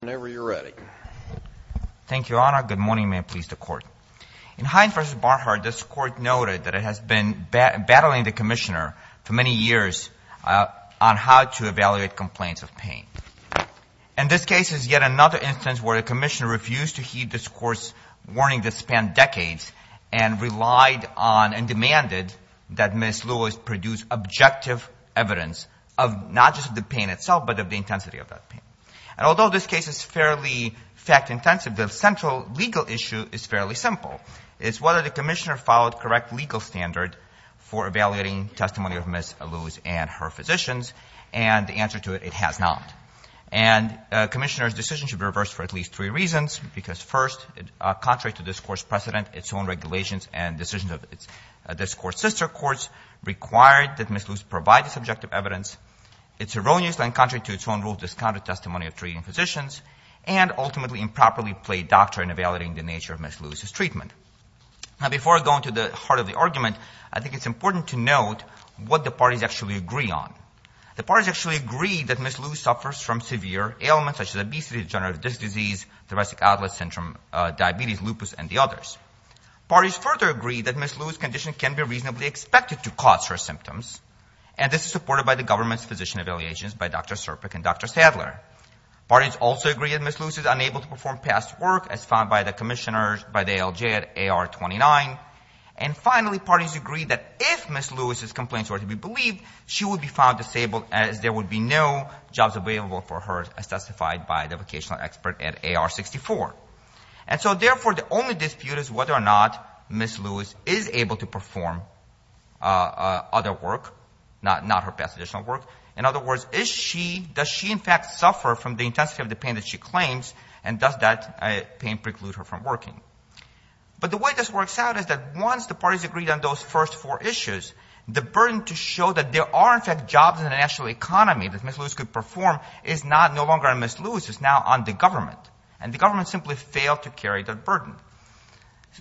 whenever you're ready. Thank you, Your Honor. Good morning. May it please the court. In Hines v. Barhart, this court noted that it has been battling the commissioner for many years on how to evaluate complaints of pain. And this case is yet another instance where the commissioner refused to heed this court's warning that spanned decades and relied on and demanded that Ms. Lewis produce objective evidence of not just the pain itself but of the intensity of that pain. And although this case is fairly fact-intensive, the central legal issue is fairly simple. It's whether the commissioner followed correct legal standard for evaluating testimony of Ms. Lewis and her physicians. And the answer to it, it has not. And the commissioner's decision should be reversed for at least three reasons, because first, contrary to this court's precedent, its own regulations and decisions of this court's sister courts required that Ms. Lewis provide the subjective evidence. It's erroneous when, contrary to its own rules, discounted testimony of treating physicians and ultimately improperly played doctor in evaluating the nature of Ms. Lewis's treatment. Now, before going to the heart of the argument, I think it's important to note what the parties actually agree on. The parties actually agree that Ms. Lewis suffers from severe ailments such as obesity, degenerative disc disease, thoracic outlet syndrome, diabetes, lupus, and the others. Parties further agree that Ms. Lewis's condition can be reasonably expected to cause her symptoms, and this is supported by the government's physician evaluations by Dr. Serpik and Dr. Sadler. Parties also agree that Ms. Lewis is unable to perform past work as found by the commissioner, by the ALJ at AR 29. And finally, parties agree that if Ms. Lewis's complaints were to be believed, she would be found disabled as there would be no jobs available for her as testified by the vocational expert at AR 64. And so not her past additional work. In other words, is she, does she in fact suffer from the intensity of the pain that she claims, and does that pain preclude her from working? But the way this works out is that once the parties agree on those first four issues, the burden to show that there are in fact jobs in the national economy that Ms. Lewis could perform is not no longer on Ms. Lewis, it's now on the government. And the government simply failed to carry that burden.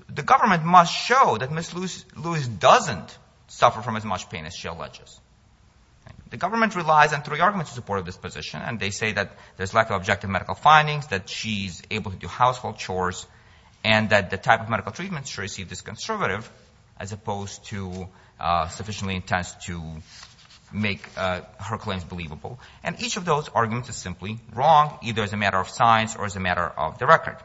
The government must show that Ms. Lewis doesn't suffer from as much pain as she alleges. The government relies on three arguments in support of this position, and they say that there's lack of objective medical findings, that she's able to do household chores, and that the type of medical treatment she received is conservative, as opposed to sufficiently intense to make her claims believable. And each of those arguments is simply wrong, either as a matter of science or as a matter of the record.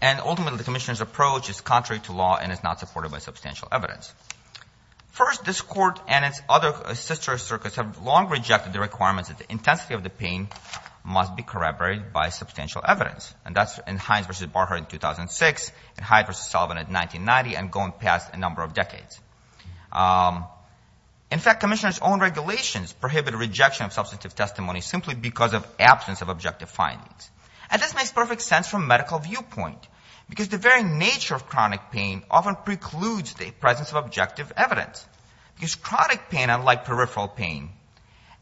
And ultimately the Commissioner's approach is contrary to law and is not supported by substantial evidence. First, this Court and its other sister circuits have long rejected the requirements that the intensity of the pain must be corroborated by substantial evidence. And that's in Hines v. Barher in 2006, in Hyde v. Sullivan in 1990, and going past a number of decades. In fact, Commissioner's own regulations prohibit a rejection of substantive testimony simply because of absence of objective findings. And this makes perfect sense from a medical viewpoint, because the very nature of chronic pain often precludes the presence of objective evidence. Because chronic pain, unlike peripheral pain,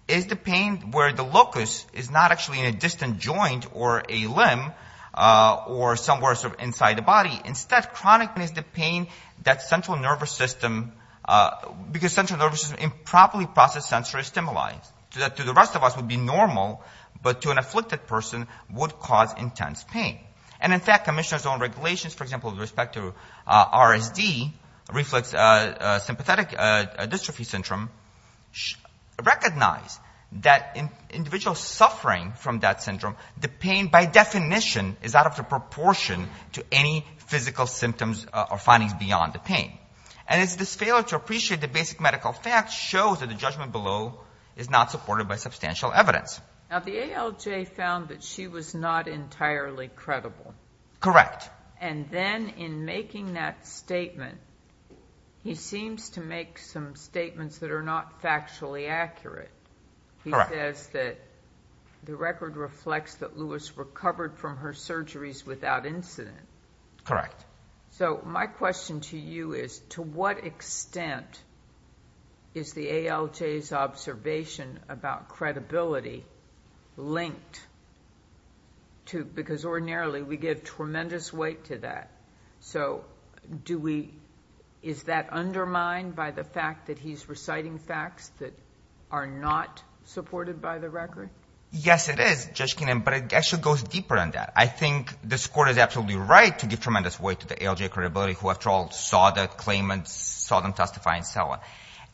is the pain where the locus is not actually in a distant joint or a limb or somewhere inside the body. Instead, chronic pain is the pain that central nervous system, because central nervous system improperly processes sensory stimuli, to the rest of us would be normal, but to an afflicted person would cause intense pain. And in fact, Commissioner's own regulations, for example, with respect to RSD, Reflex Sympathetic Dystrophy Syndrome, recognize that in individuals suffering from that syndrome, the pain by definition is out of proportion to any physical symptoms or findings beyond the pain. And it's this failure to appreciate the basic medical facts shows that the judgment below is not supported by substantial evidence. Now, the ALJ found that she was not entirely credible. Correct. And then in making that statement, he seems to make some statements that are not factually accurate. He says that the record reflects that Lewis recovered from her surgeries without incident. Correct. So, my question to you is, to what extent is the ALJ's observation about credibility linked to, because ordinarily we give tremendous weight to that. So, is that undermined by the fact that he's reciting facts that are not supported by the record? Yes, it is, Judge Kinnan, but it actually goes deeper than that. I think the Court is absolutely right to give tremendous weight to the ALJ credibility, who after all saw the claimants, saw them testify, and so on.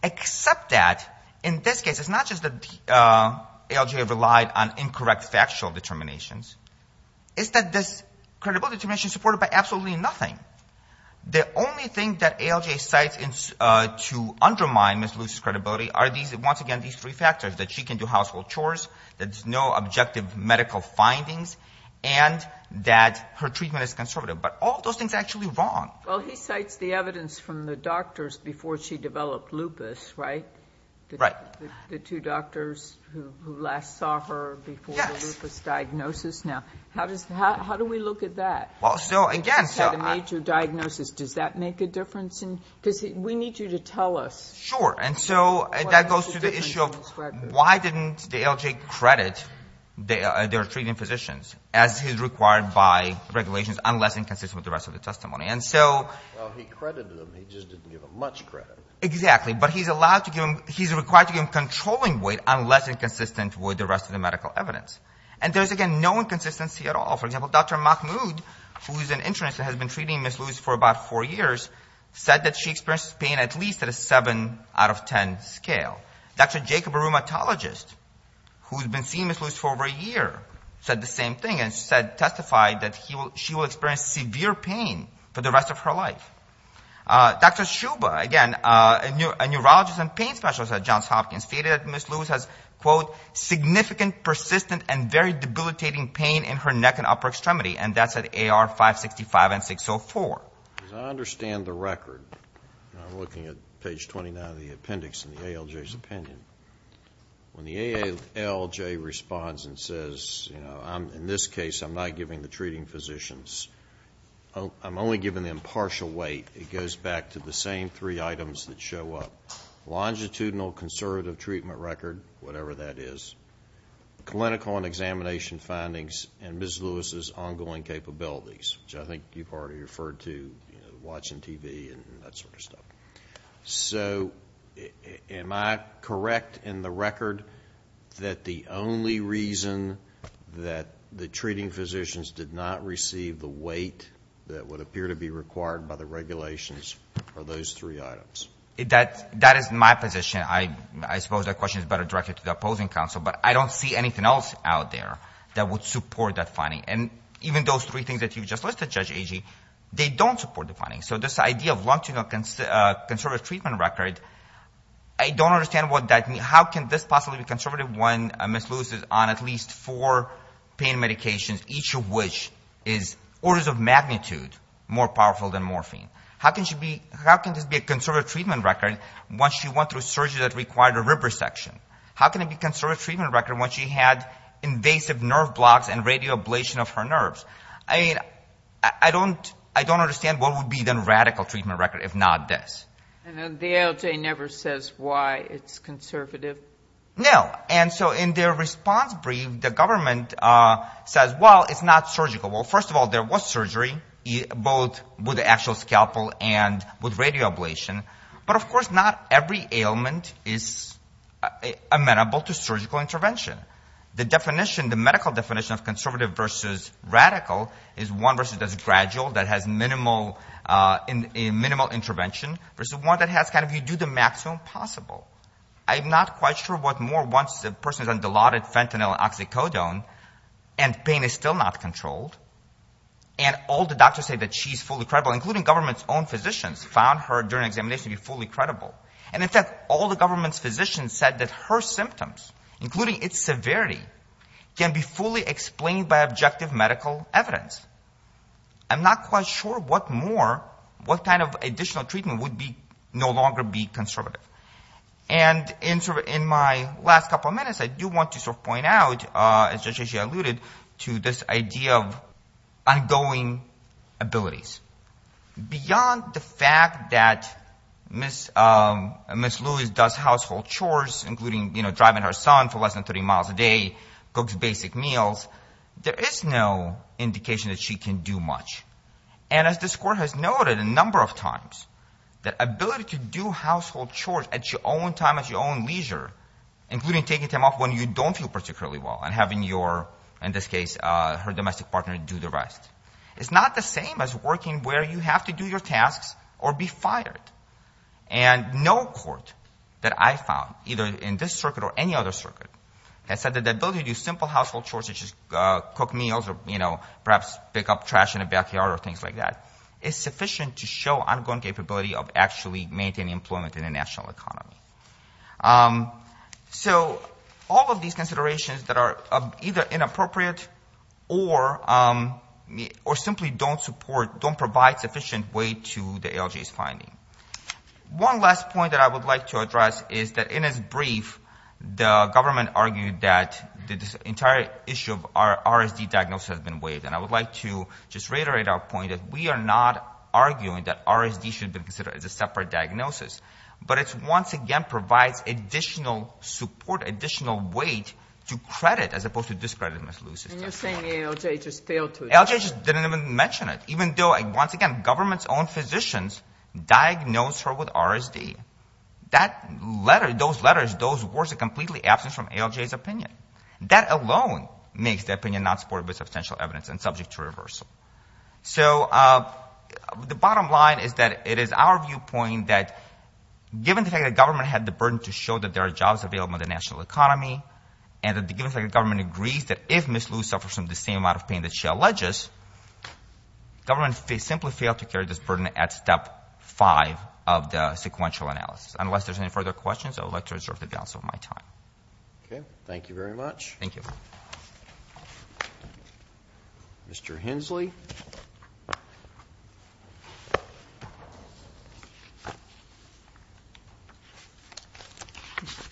Except that, in this case, it's not just that the ALJ relied on incorrect factual determinations. It's that this credibility determination is supported by absolutely nothing. The only thing that ALJ cites to undermine Ms. Lewis's credibility are these, once again, these three factors, that she can do household chores, that there's no objective medical findings, and that her treatment is conservative. But all of those things are actually wrong. Well, he cites the evidence from the doctors before she developed lupus, right? Right. The two doctors who last saw her before the lupus diagnosis? Yes. Now, how do we look at that? Well, so, again, so I He just had a major diagnosis. Does that make a difference? Because we need you to tell us Sure. And so that goes to the issue of why didn't the ALJ credit their treating physicians, as is required by regulations, unless inconsistent with the rest of the testimony. And so Well, he credited them. He just didn't give them much credit. Exactly. But he's allowed to give them he's required to give them controlling weight, unless inconsistent with the rest of the medical evidence. And there's, again, no inconsistency at all. For example, Dr. Mahmoud, who is an internist and has been treating Ms. Lewis for about four years, said that she experienced pain at least at a seven out of ten scale. Dr. Jacob, a rheumatologist, who's been seeing Ms. Lewis for over a year, said the same thing and testified that she will experience severe pain for the rest of her life. Dr. Shuba, again, a neurologist and pain specialist at Johns Hopkins, stated that Ms. Lewis has, quote, significant, persistent and very debilitating pain in her neck and upper extremity. And that's at AR 565 and 604. As I understand the record, I'm looking at page 29 of the appendix in the ALJ's opinion, when the ALJ responds and says, you know, I'm in this case, I'm not giving the treating physicians, I'm only giving them partial weight, it goes back to the same three items that show up. Longitudinal conservative treatment record, whatever that is. Clinical and examination findings and Ms. Lewis's ongoing capabilities, which I think you've already referred to, watching TV and that sort of stuff. So, am I correct in the record that the only reason that the treating physicians did not receive the weight that would appear to be required by the regulations are those three items? That is my position. I suppose that question is better directed to the opposing counsel. But I don't see anything else out there that would support that finding. And even those three things that you just listed, Judge Agee, they don't support the finding. So this idea of longitudinal conservative treatment record, I don't understand how can this possibly be conservative when Ms. Lewis is on at least four pain medications, each of which is orders of magnitude more powerful than morphine. How can this be a conservative treatment record once she went through surgery that required a rib resection? How can it be a conservative treatment record once she had invasive nerve blocks and radial ablation of her nerves? I don't understand what would be the radical treatment record if not this. And the ALJ never says why it's conservative? No. And so in their response brief, the government says, well, it's not surgical. Well, first of all, there was surgery, both with the actual scalpel and with radial ablation. But of course not every ailment is amenable to surgical intervention. The definition, the medical definition of conservative versus radical is one versus gradual that has minimal intervention versus one that has kind of you do the maximum possible. I'm not quite sure what more once a person is on Dilaudid, fentanyl, oxycodone, and pain is still not controlled, and all the doctors say that she's fully credible, including government's own physicians found her during examination to be fully credible. And in fact, all the government's physicians said that her symptoms, including its severity, can be fully explained by objective medical evidence. I'm not quite sure what more, what kind of additional treatment would be no longer be conservative. And in my last couple of minutes, I do want to sort of point out, as Judge Asha alluded, to this idea of ongoing abilities. Beyond the fact that Ms. Lewis does household chores, including driving her son for less than 30 miles a day, cooks basic meals, there is no indication that she can do much. And as this Court has noted a number of times, the ability to do household chores at your own time, at your own leisure, including taking time off when you don't feel particularly well, and having your, in this case, her domestic partner do the rest, is not the same as working where you have to do your tasks or be fired. And no court that I found, either in this circuit or any other circuit, has said that the ability to do simple household chores, such as cook meals or perhaps pick up trash in the backyard or things like that, is sufficient to show ongoing capability of actually maintaining employment in the national economy. So all of these considerations that are either inappropriate or simply don't support, don't provide sufficient weight to the ALJ's finding. One last point that I would like to address is that in its brief, the government argued that the entire issue of our RSD diagnosis has been waived. And I would like to just reiterate our point that we are not arguing that RSD should be considered as a separate diagnosis. But it once again provides additional support, additional weight to credit as opposed to discreditedness. And you're saying ALJ just failed to address it? ALJ just didn't even mention it. Even though, once again, government's own physicians diagnosed her with RSD. Those letters, those words are completely absent from ALJ's opinion. That alone makes the opinion not supported with substantial evidence and subject to reversal. So the bottom line is that it is our viewpoint that, given the fact that government had the burden to show that there are jobs available in the national economy, and that the government agrees that if Ms. Liu suffers from the same amount of pain that she alleges, government simply failed to carry this burden at step five of the sequential analysis. Unless there's any further questions, I would like to reserve the balance of my time. Okay. Thank you very much. Thank you. Mr. Hensley.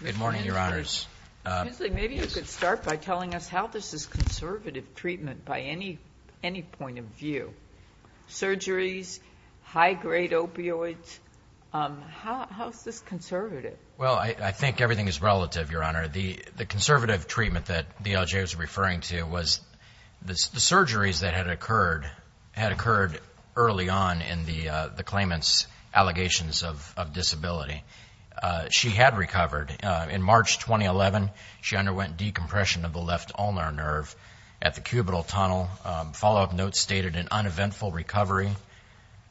Good morning, Your Honors. Mr. Hensley, maybe you could start by telling us how this is conservative treatment by any point of view. Surgeries, high-grade opioids, how is this conservative? Well, I think everything is relative, Your Honor. The conservative treatment that the ALJ was referring to was the surgeries that had occurred early on in the claimant's allegations of disability. She had recovered. In March 2011, she underwent decompression of the left ulnar nerve at the cubital tunnel. Follow-up notes stated an uneventful recovery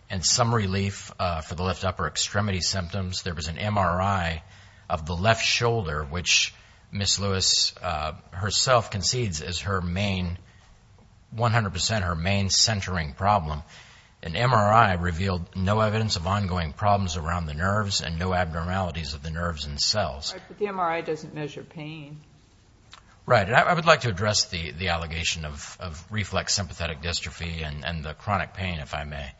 and some MRI of the left shoulder, which Ms. Lewis herself concedes is her main, 100 percent her main centering problem. An MRI revealed no evidence of ongoing problems around the nerves and no abnormalities of the nerves and cells. Right, but the MRI doesn't measure pain. Right. I would like to address the allegation of reflex sympathetic dystrophy and the chronic pain, if I may.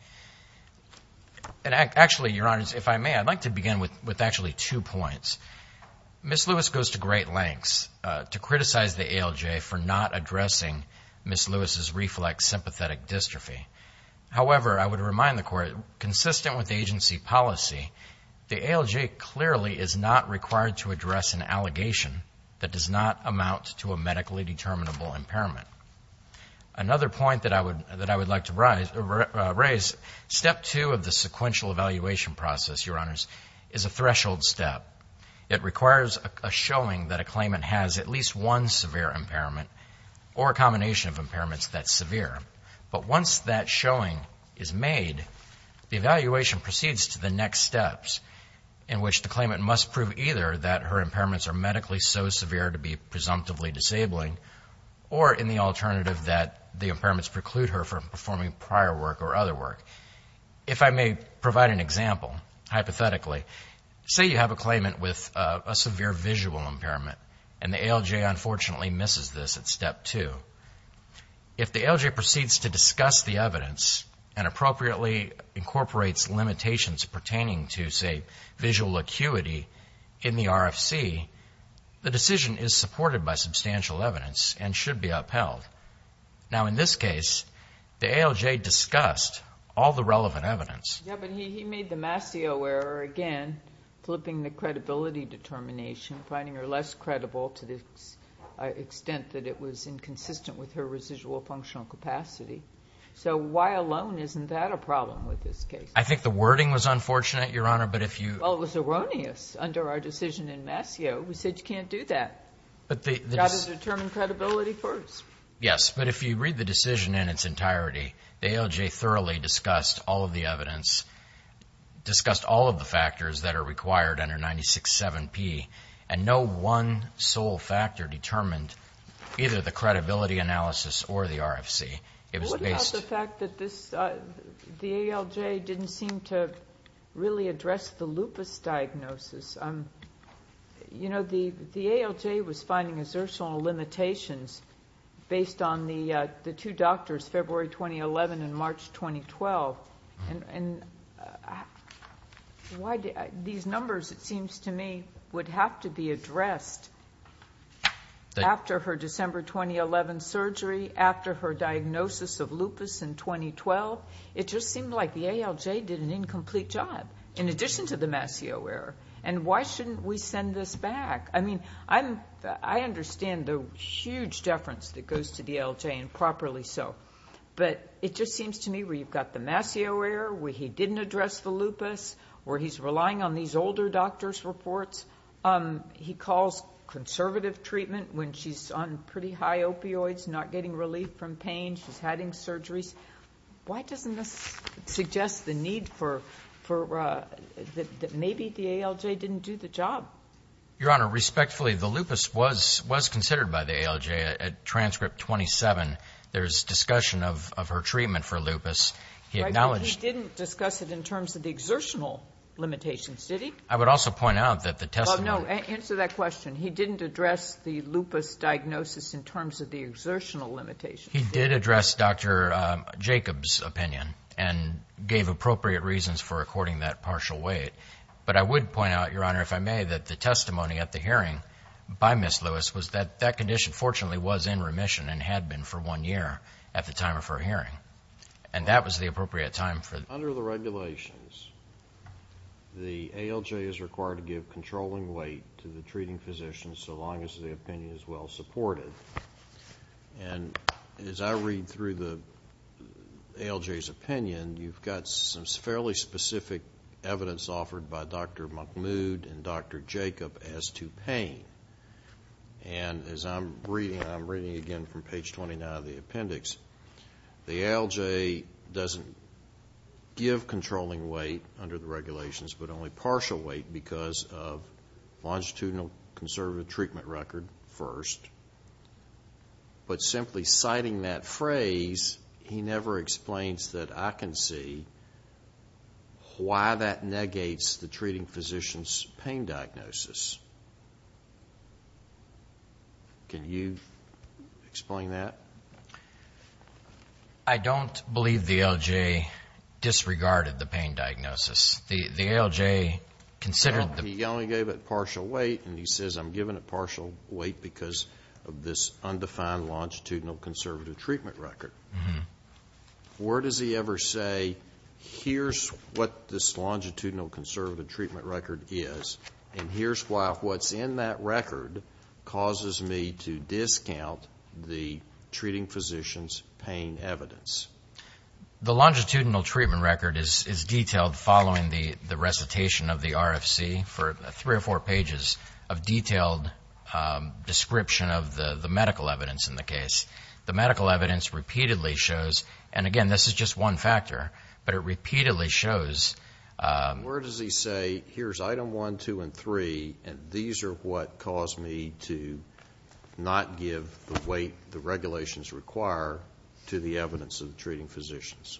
And actually, Your Honors, if I may, I'd like to begin with actually two points. Ms. Lewis goes to great lengths to criticize the ALJ for not addressing Ms. Lewis' reflex sympathetic dystrophy. However, I would remind the Court, consistent with the agency policy, the ALJ clearly is not required to address an allegation that does not amount to a medically determinable impairment. Another point that I would like to raise, step two of the sequential evaluation process, Your Honors, is a threshold step. It requires a showing that a claimant has at least one severe impairment or a combination of impairments that's severe. But once that showing is made, the evaluation proceeds to the next steps in which the claimant must prove either that her impairments are medically so severe to be presumptively disabling or in the alternative that the impairments preclude her from performing prior work or other work. If I may provide an example, hypothetically, say you have a claimant with a severe visual impairment and the ALJ unfortunately misses this at step two. If the ALJ proceeds to discuss the evidence and appropriately incorporates limitations pertaining to, say, visual acuity in the RFC, the decision is supported by substantial evidence and should be upheld. Now in this case, the ALJ discussed all the relevant evidence. Yeah, but he made the Mascio error again, flipping the credibility determination, finding her less credible to the extent that it was inconsistent with her residual functional capacity. So why alone isn't that a problem with this case? I think the wording was unfortunate, Your Honor, but if you Well, it was erroneous under our decision in Mascio. We said you can't do that. You've got to determine credibility first. Yes, but if you read the decision in its entirety, the ALJ thoroughly discussed all of the evidence, discussed all of the factors that are required under 96-7P, and no one sole factor determined either the credibility analysis or the RFC. What about the fact that the ALJ didn't seem to really address the lupus diagnosis? You know, the ALJ was finding assertional limitations based on the two doctors, February 2011 and March 2012. These numbers, it seems to me, would have to be addressed after her diagnosis of lupus in 2012. It just seemed like the ALJ did an incomplete job in addition to the Mascio error, and why shouldn't we send this back? I mean, I understand the huge deference that goes to the ALJ, and properly so, but it just seems to me where you've got the Mascio error, where he didn't address the lupus, where he's relying on these older doctor's reports. He calls conservative treatment when she's on pretty high opioids, not getting relief from pain, she's having surgeries. Why doesn't this suggest the need for, that maybe the ALJ didn't do the job? Your Honor, respectfully, the lupus was considered by the ALJ at transcript 27. There's discussion of her treatment for lupus. He acknowledged... But he didn't discuss it in terms of the exertional limitations, did he? I would also point out that the testimony... Well, no, answer that question. He didn't address the lupus diagnosis in terms of the limitations. He did address Dr. Jacobs' opinion, and gave appropriate reasons for according that partial weight. But I would point out, Your Honor, if I may, that the testimony at the hearing by Ms. Lewis was that that condition fortunately was in remission, and had been for one year at the time of her hearing. And that was the appropriate time for... Under the regulations, the ALJ is required to give controlling weight to the treating physician, so long as the opinion is well supported. And as I read through the ALJ's opinion, you've got some fairly specific evidence offered by Dr. Mahmoud and Dr. Jacobs as to pain. And as I'm reading, and I'm reading again from page 29 of the appendix, the ALJ doesn't give controlling weight under the regulations, but only partial weight because of longitudinal conservative treatment record first. But simply citing that phrase, he never explains that I can see why that negates the treating physician's pain diagnosis. Can you explain that? I don't believe the ALJ disregarded the pain diagnosis. The ALJ considered... He only gave it partial weight, and he says, I'm giving it partial weight because of this undefined longitudinal conservative treatment record. Where does he ever say, here's what this longitudinal conservative treatment record is, and here's why what's in that record causes me to discount the treating physician's pain evidence? The longitudinal treatment record is detailed following the recitation of the RFC for three or four pages of detailed description of the medical evidence in the case. The medical evidence repeatedly shows, and again, this is just one factor, but it repeatedly shows... Where does he say, here's item one, two, and three, and these are what caused me to not give the weight the regulations require to the evidence of the treating physicians?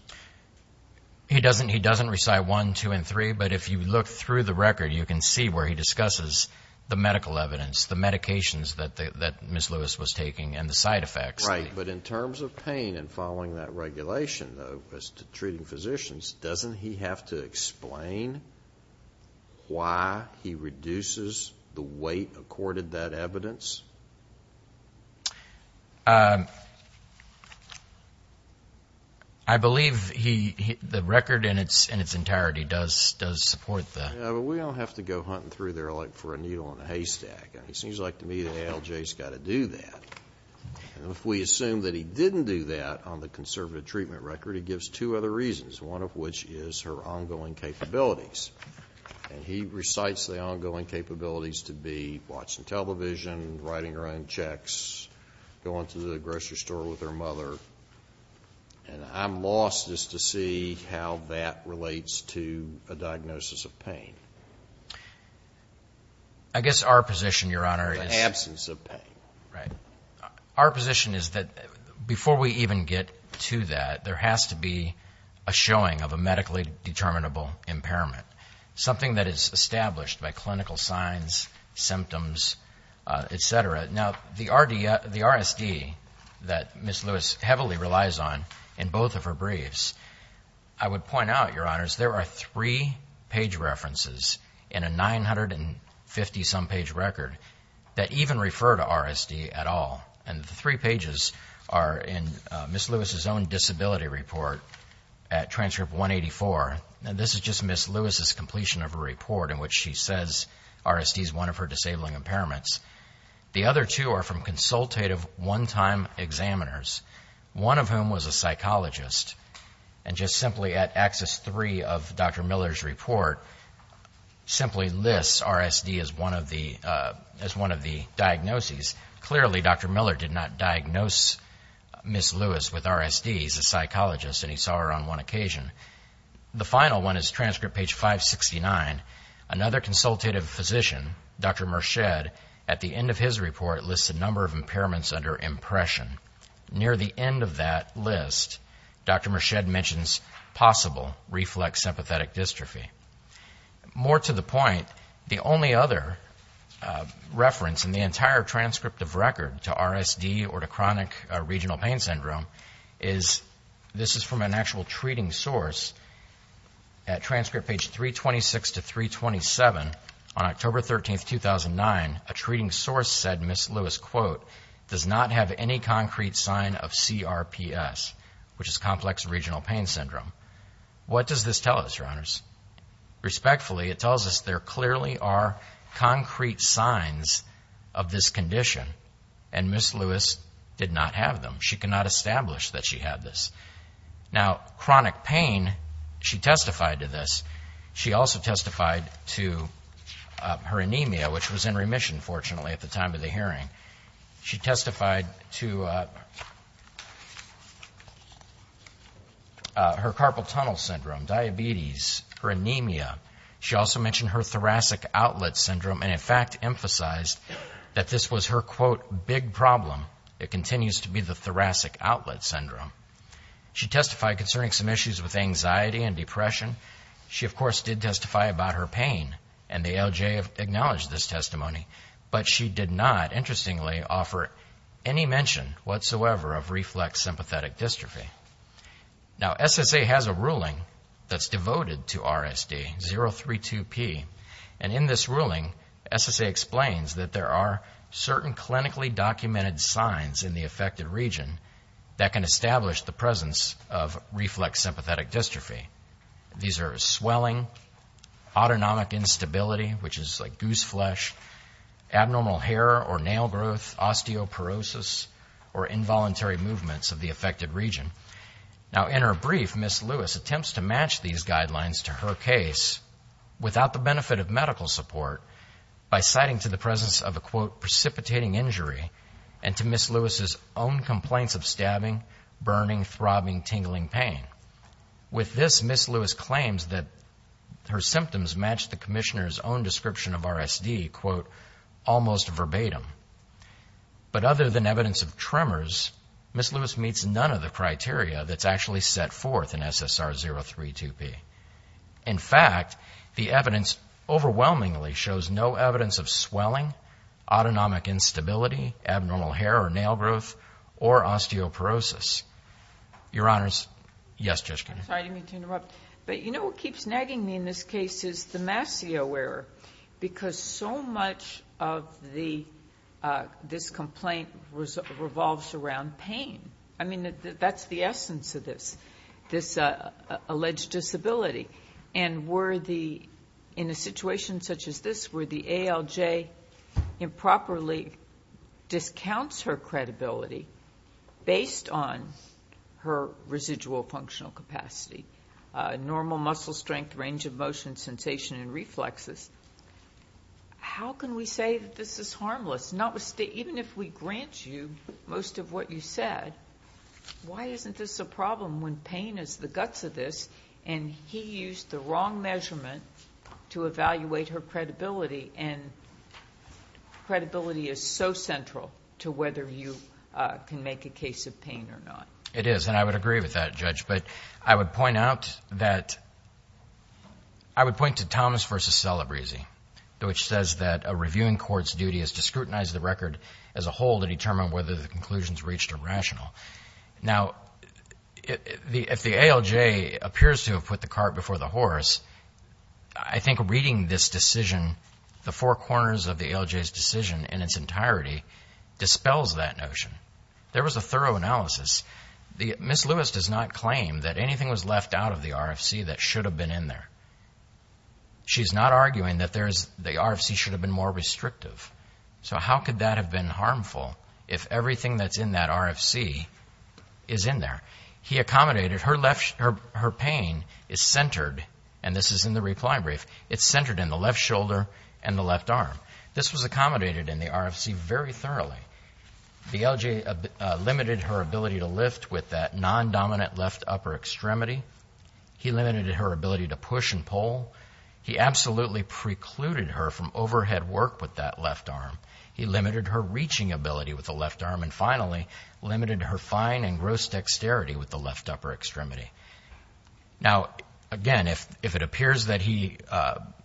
He doesn't recite one, two, and three, but if you look through the record, you can see where he discusses the medical evidence, the medications that Ms. Lewis was taking, and the side effects. Right, but in terms of pain and following that regulation, though, as to treating physicians, doesn't he have to explain why he reduces the weight accorded that evidence? I believe the record in its entirety does support that. We don't have to go hunting through there like for a needle in a haystack. It seems like to me that ALJ's got to do that. If we assume that he didn't do that on the conservative treatment record, he gives two other reasons, one of which is her ongoing capabilities. He recites the ongoing capabilities to be watching television, writing her own checks, going to the grocery store with her mother, and I'm lost as to see how that relates to a diagnosis of pain. I guess our position, Your Honor, is... The absence of pain. Right. Our position is that before we even get to that, there has to be a showing of a medically determinable impairment, something that is established by clinical signs, symptoms, et cetera. Now, the RSD that Ms. Lewis heavily relies on in both of her briefs, I would point out, Your Honors, there are three page references in a 950-some page record that even refer to RSD at all, and the three pages are in Ms. Lewis's own disability report at Transcript 184, and this is just Ms. Lewis's completion of a report in which she says RSD is one of her disabling impairments. The other two are from consultative one-time examiners, one of whom was a psychologist, and just simply at Axis 3 of Dr. Miller's report simply lists RSD as one of the diagnoses. Clearly, Dr. Miller did not diagnose Ms. Lewis with RSD. He's a psychologist, and he saw her on one occasion. The final one is Transcript page 569. Another consultative physician, Dr. Merched, at the end of his report lists a number of impairments under impression. Near the end of that list, Dr. Merched mentions possible reflex sympathetic dystrophy. More to the point, the only other reference in the entire transcript of record to RSD or to chronic regional pain syndrome is, this is from an actual treating source, at Transcript page 326 to 327, on October 13, 2009, a treating source said Ms. Lewis, quote, does not have any concrete sign of CRPS, which is complex regional pain syndrome. What does this tell us, Your Honors? Respectfully, it tells us there clearly are concrete signs of this condition, and Ms. Lewis did not have them. She cannot establish that she had this. Now, chronic pain, she testified to this. She also testified to her anemia, which was in remission, fortunately, at the time of the hearing. She testified to her carpal tunnel syndrome, diabetes, her anemia. She also mentioned her thoracic outlet syndrome and, in fact, emphasized that this was her, quote, big problem. It continues to be the thoracic outlet syndrome. She testified concerning some issues with anxiety and depression. She, of course, did testify about her pain, and the LJ acknowledged this testimony, but she did not, interestingly, offer any mention whatsoever of reflex sympathetic dystrophy. Now, SSA has a ruling that's devoted to RSD, 032P, and in this ruling, SSA explains that there are certain clinically documented signs in the affected region that can establish the presence of reflex sympathetic dystrophy. These are swelling, autonomic instability, which is like goose flesh, abnormal hair or nail growth, osteoporosis, or involuntary movements of the affected region. Now, in her brief, Ms. Lewis attempts to match these guidelines to her case without the benefit of medical support by citing to the presence of a, quote, precipitating injury and to Ms. Lewis's own complaints of stabbing, burning, throbbing, tingling pain. With this, Ms. Lewis claims that her symptoms matched the commissioner's own description of RSD, quote, almost verbatim. But other than evidence of tremors, Ms. Lewis meets none of the criteria that's actually set forth in SSR 032P. In fact, the evidence overwhelmingly shows no evidence of swelling, autonomic instability, abnormal hair or nail growth, or osteoporosis. Your Honors, yes, Judge Kennedy. Sorry to interrupt. But you know what keeps nagging me in this case is the Massey-Awerer because so much of this complaint revolves around pain. I mean, that's the essence of this, this alleged disability. And in a situation such as this where the ALJ improperly discounts her credibility based on her residual functional capacity, normal muscle strength, range of motion, sensation, and reflexes, how can we say that this is harmless, even if we grant you most of what you said? Why isn't this a problem when pain is the guts of this and he used the wrong measurement to evaluate her credibility? And credibility is so central to whether you can make a case of pain or not. It is. And I would agree with that, Judge. But I would point out that — I would point to Thomas v. Celebrezzi, which says that a reviewing court's duty is to scrutinize the record as a whole to determine whether the conclusions reached are rational. Now, if the ALJ appears to have put the cart before the horse, I think reading this decision, the four corners of the ALJ's decision in its entirety dispels that notion. There was a thorough analysis. Ms. Lewis does not claim that anything was left out of the RFC that should have been in there. She's not arguing that the RFC should have been more restrictive. So how could that have been harmful if everything that's in that RFC is in there? He accommodated that her pain is centered, and this is in the reply brief, it's centered in the left shoulder and the left arm. This was accommodated in the RFC very thoroughly. The ALJ limited her ability to lift with that non-dominant left upper extremity. He limited her ability to push and pull. He absolutely precluded her from overhead work with that left arm. He limited her reaching ability with the left arm. And finally, limited her fine and gross dexterity with the left upper extremity. Now, again, if it appears that he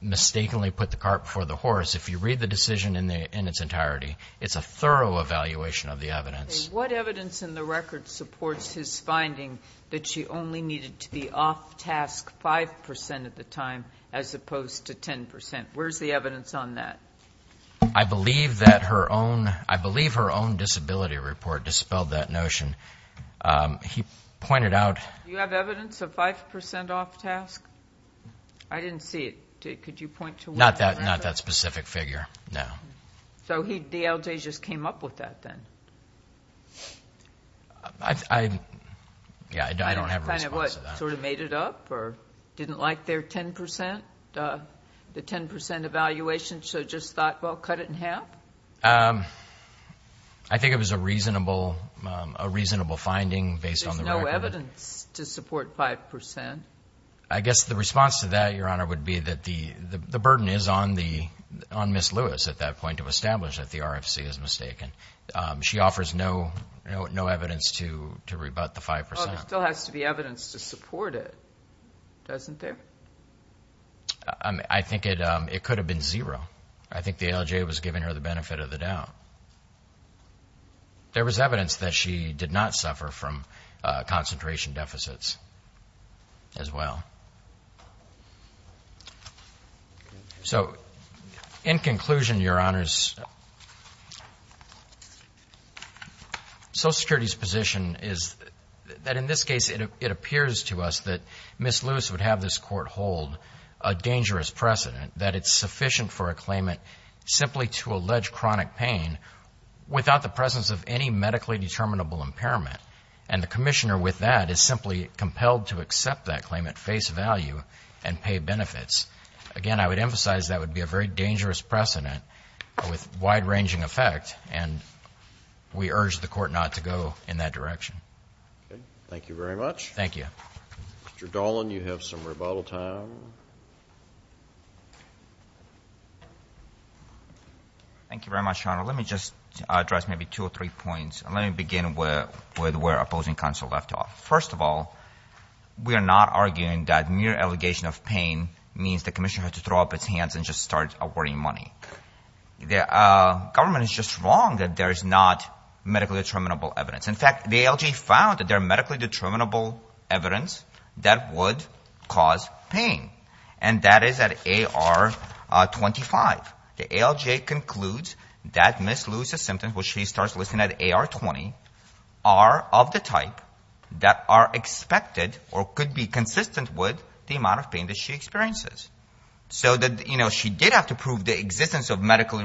mistakenly put the cart before the horse, if you read the decision in its entirety, it's a thorough evaluation of the evidence. What evidence in the record supports his finding that she only needed to be off task 5 percent at the time as opposed to 10 percent? Where's the evidence on that? I believe that her own, I believe her own disability report dispelled that notion. He pointed out... Do you have evidence of 5 percent off task? I didn't see it. Could you point to one? Not that specific figure, no. So he, the ALJ, just came up with that, then? I, yeah, I don't have a response to that. Sort of made it up, or didn't like their 10 percent, the 10 percent evaluation, so just thought, well, cut it in half? I think it was a reasonable, a reasonable finding based on the record. There's no evidence to support 5 percent. I guess the response to that, Your Honor, would be that the burden is on the, on Ms. Lewis at that point to establish that the RFC is mistaken. She offers no, no evidence to rebut the 5 percent. Well, there still has to be evidence to support it, doesn't there? I think it could have been zero. I think the ALJ was giving her the benefit of the doubt. There was evidence that she did not suffer from concentration deficits as well. So, in conclusion, Your Honors, Social Security's position is that in this case, it appears to us that Ms. Lewis would have this Court hold a dangerous precedent, that it's sufficient for a claimant simply to allege chronic pain without the presence of any medically determinable impairment, and the Commissioner with that is simply compelled to accept that claim at face value and pay benefits. Again, I would emphasize that would be a very dangerous precedent with wide-ranging effect, and we urge the Court not to go in that direction. Thank you very much. Thank you. Mr. Dolan, you have some rebuttal time. Thank you very much, Your Honor. Let me just address maybe two or three points, and let not argue that mere allegation of pain means the Commissioner has to throw up its hands and just start awarding money. The government is just wrong that there is not medically determinable evidence. In fact, the ALJ found that there is medically determinable evidence that would cause pain, and that is at AR 25. The ALJ concludes that Ms. Lewis' symptoms, which she starts listing at AR 20, are of the type that are expected or could be consistent with the amount of pain that she experiences. So that, you know, she did have to prove the existence of medical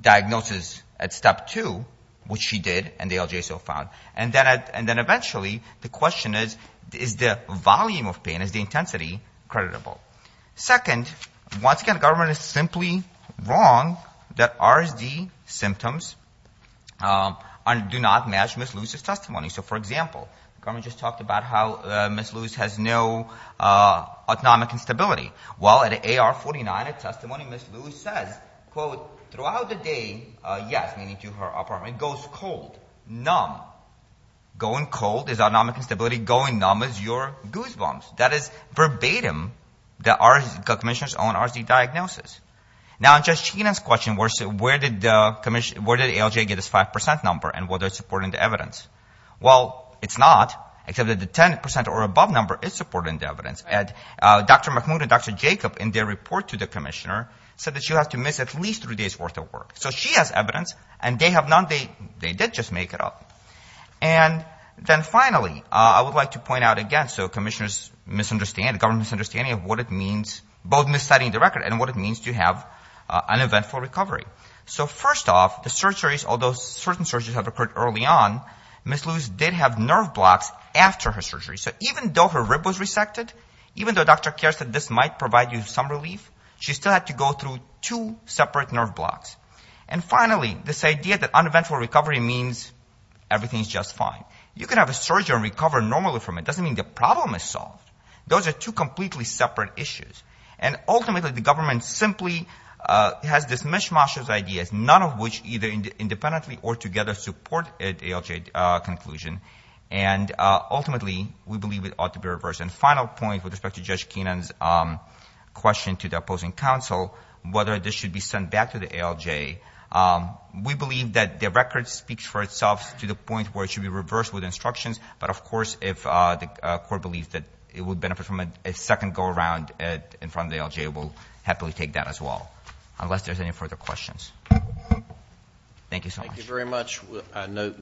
diagnosis at Step 2, which she did, and the ALJ so found. And then eventually the question is, is the volume of pain, is the intensity, creditable? Second, once again, the government is simply wrong that RSD symptoms do not match Ms. Lewis' testimony. So, for example, the government just talked about how Ms. Lewis has no autonomic instability. Well, at AR 49, a testimony Ms. Lewis says, quote, throughout the day, yes, meaning to her apartment, goes cold, numb. Going cold is autonomic instability. Going numb is your goosebumps. That is verbatim the commissioner's own RSD diagnosis. Now in Judge Sheenan's question, where did the ALJ get its 5% number, and whether it's supporting the evidence? Well, it's not, except that the 10% or above number is supporting the evidence. Dr. McMoon and Dr. Jacob, in their report to the commissioner, said that she'll have to miss at least three days' worth of work. So she has evidence, and they did just make it up. And then finally, I would like to point out again, so commissioner's misunderstanding, government's misunderstanding of what it means, both miss citing the record and what it means to have uneventful recovery. So first off, the surgeries, although certain surgeries have occurred early on, Ms. Lewis did have nerve blocks after her surgery. So even though her rib was resected, even though Dr. Kerr said this might provide you some relief, she still had to go through two separate nerve blocks. And finally, this idea that everything's just fine. You can have a surgery and recover normally from it. It doesn't mean the problem is solved. Those are two completely separate issues. And ultimately, the government simply has this mishmash of ideas, none of which either independently or together support an ALJ conclusion. And ultimately, we believe it ought to be reversed. And final point with respect to Judge Sheenan's question to the opposing counsel, whether this should be sent back to the ALJ, we believe that the record speaks for itself to the point where it should be reversed with instructions. But of course, if the court believes that it would benefit from a second go around in front of the ALJ, we'll happily take that as well, unless there's any further questions. Thank you so much.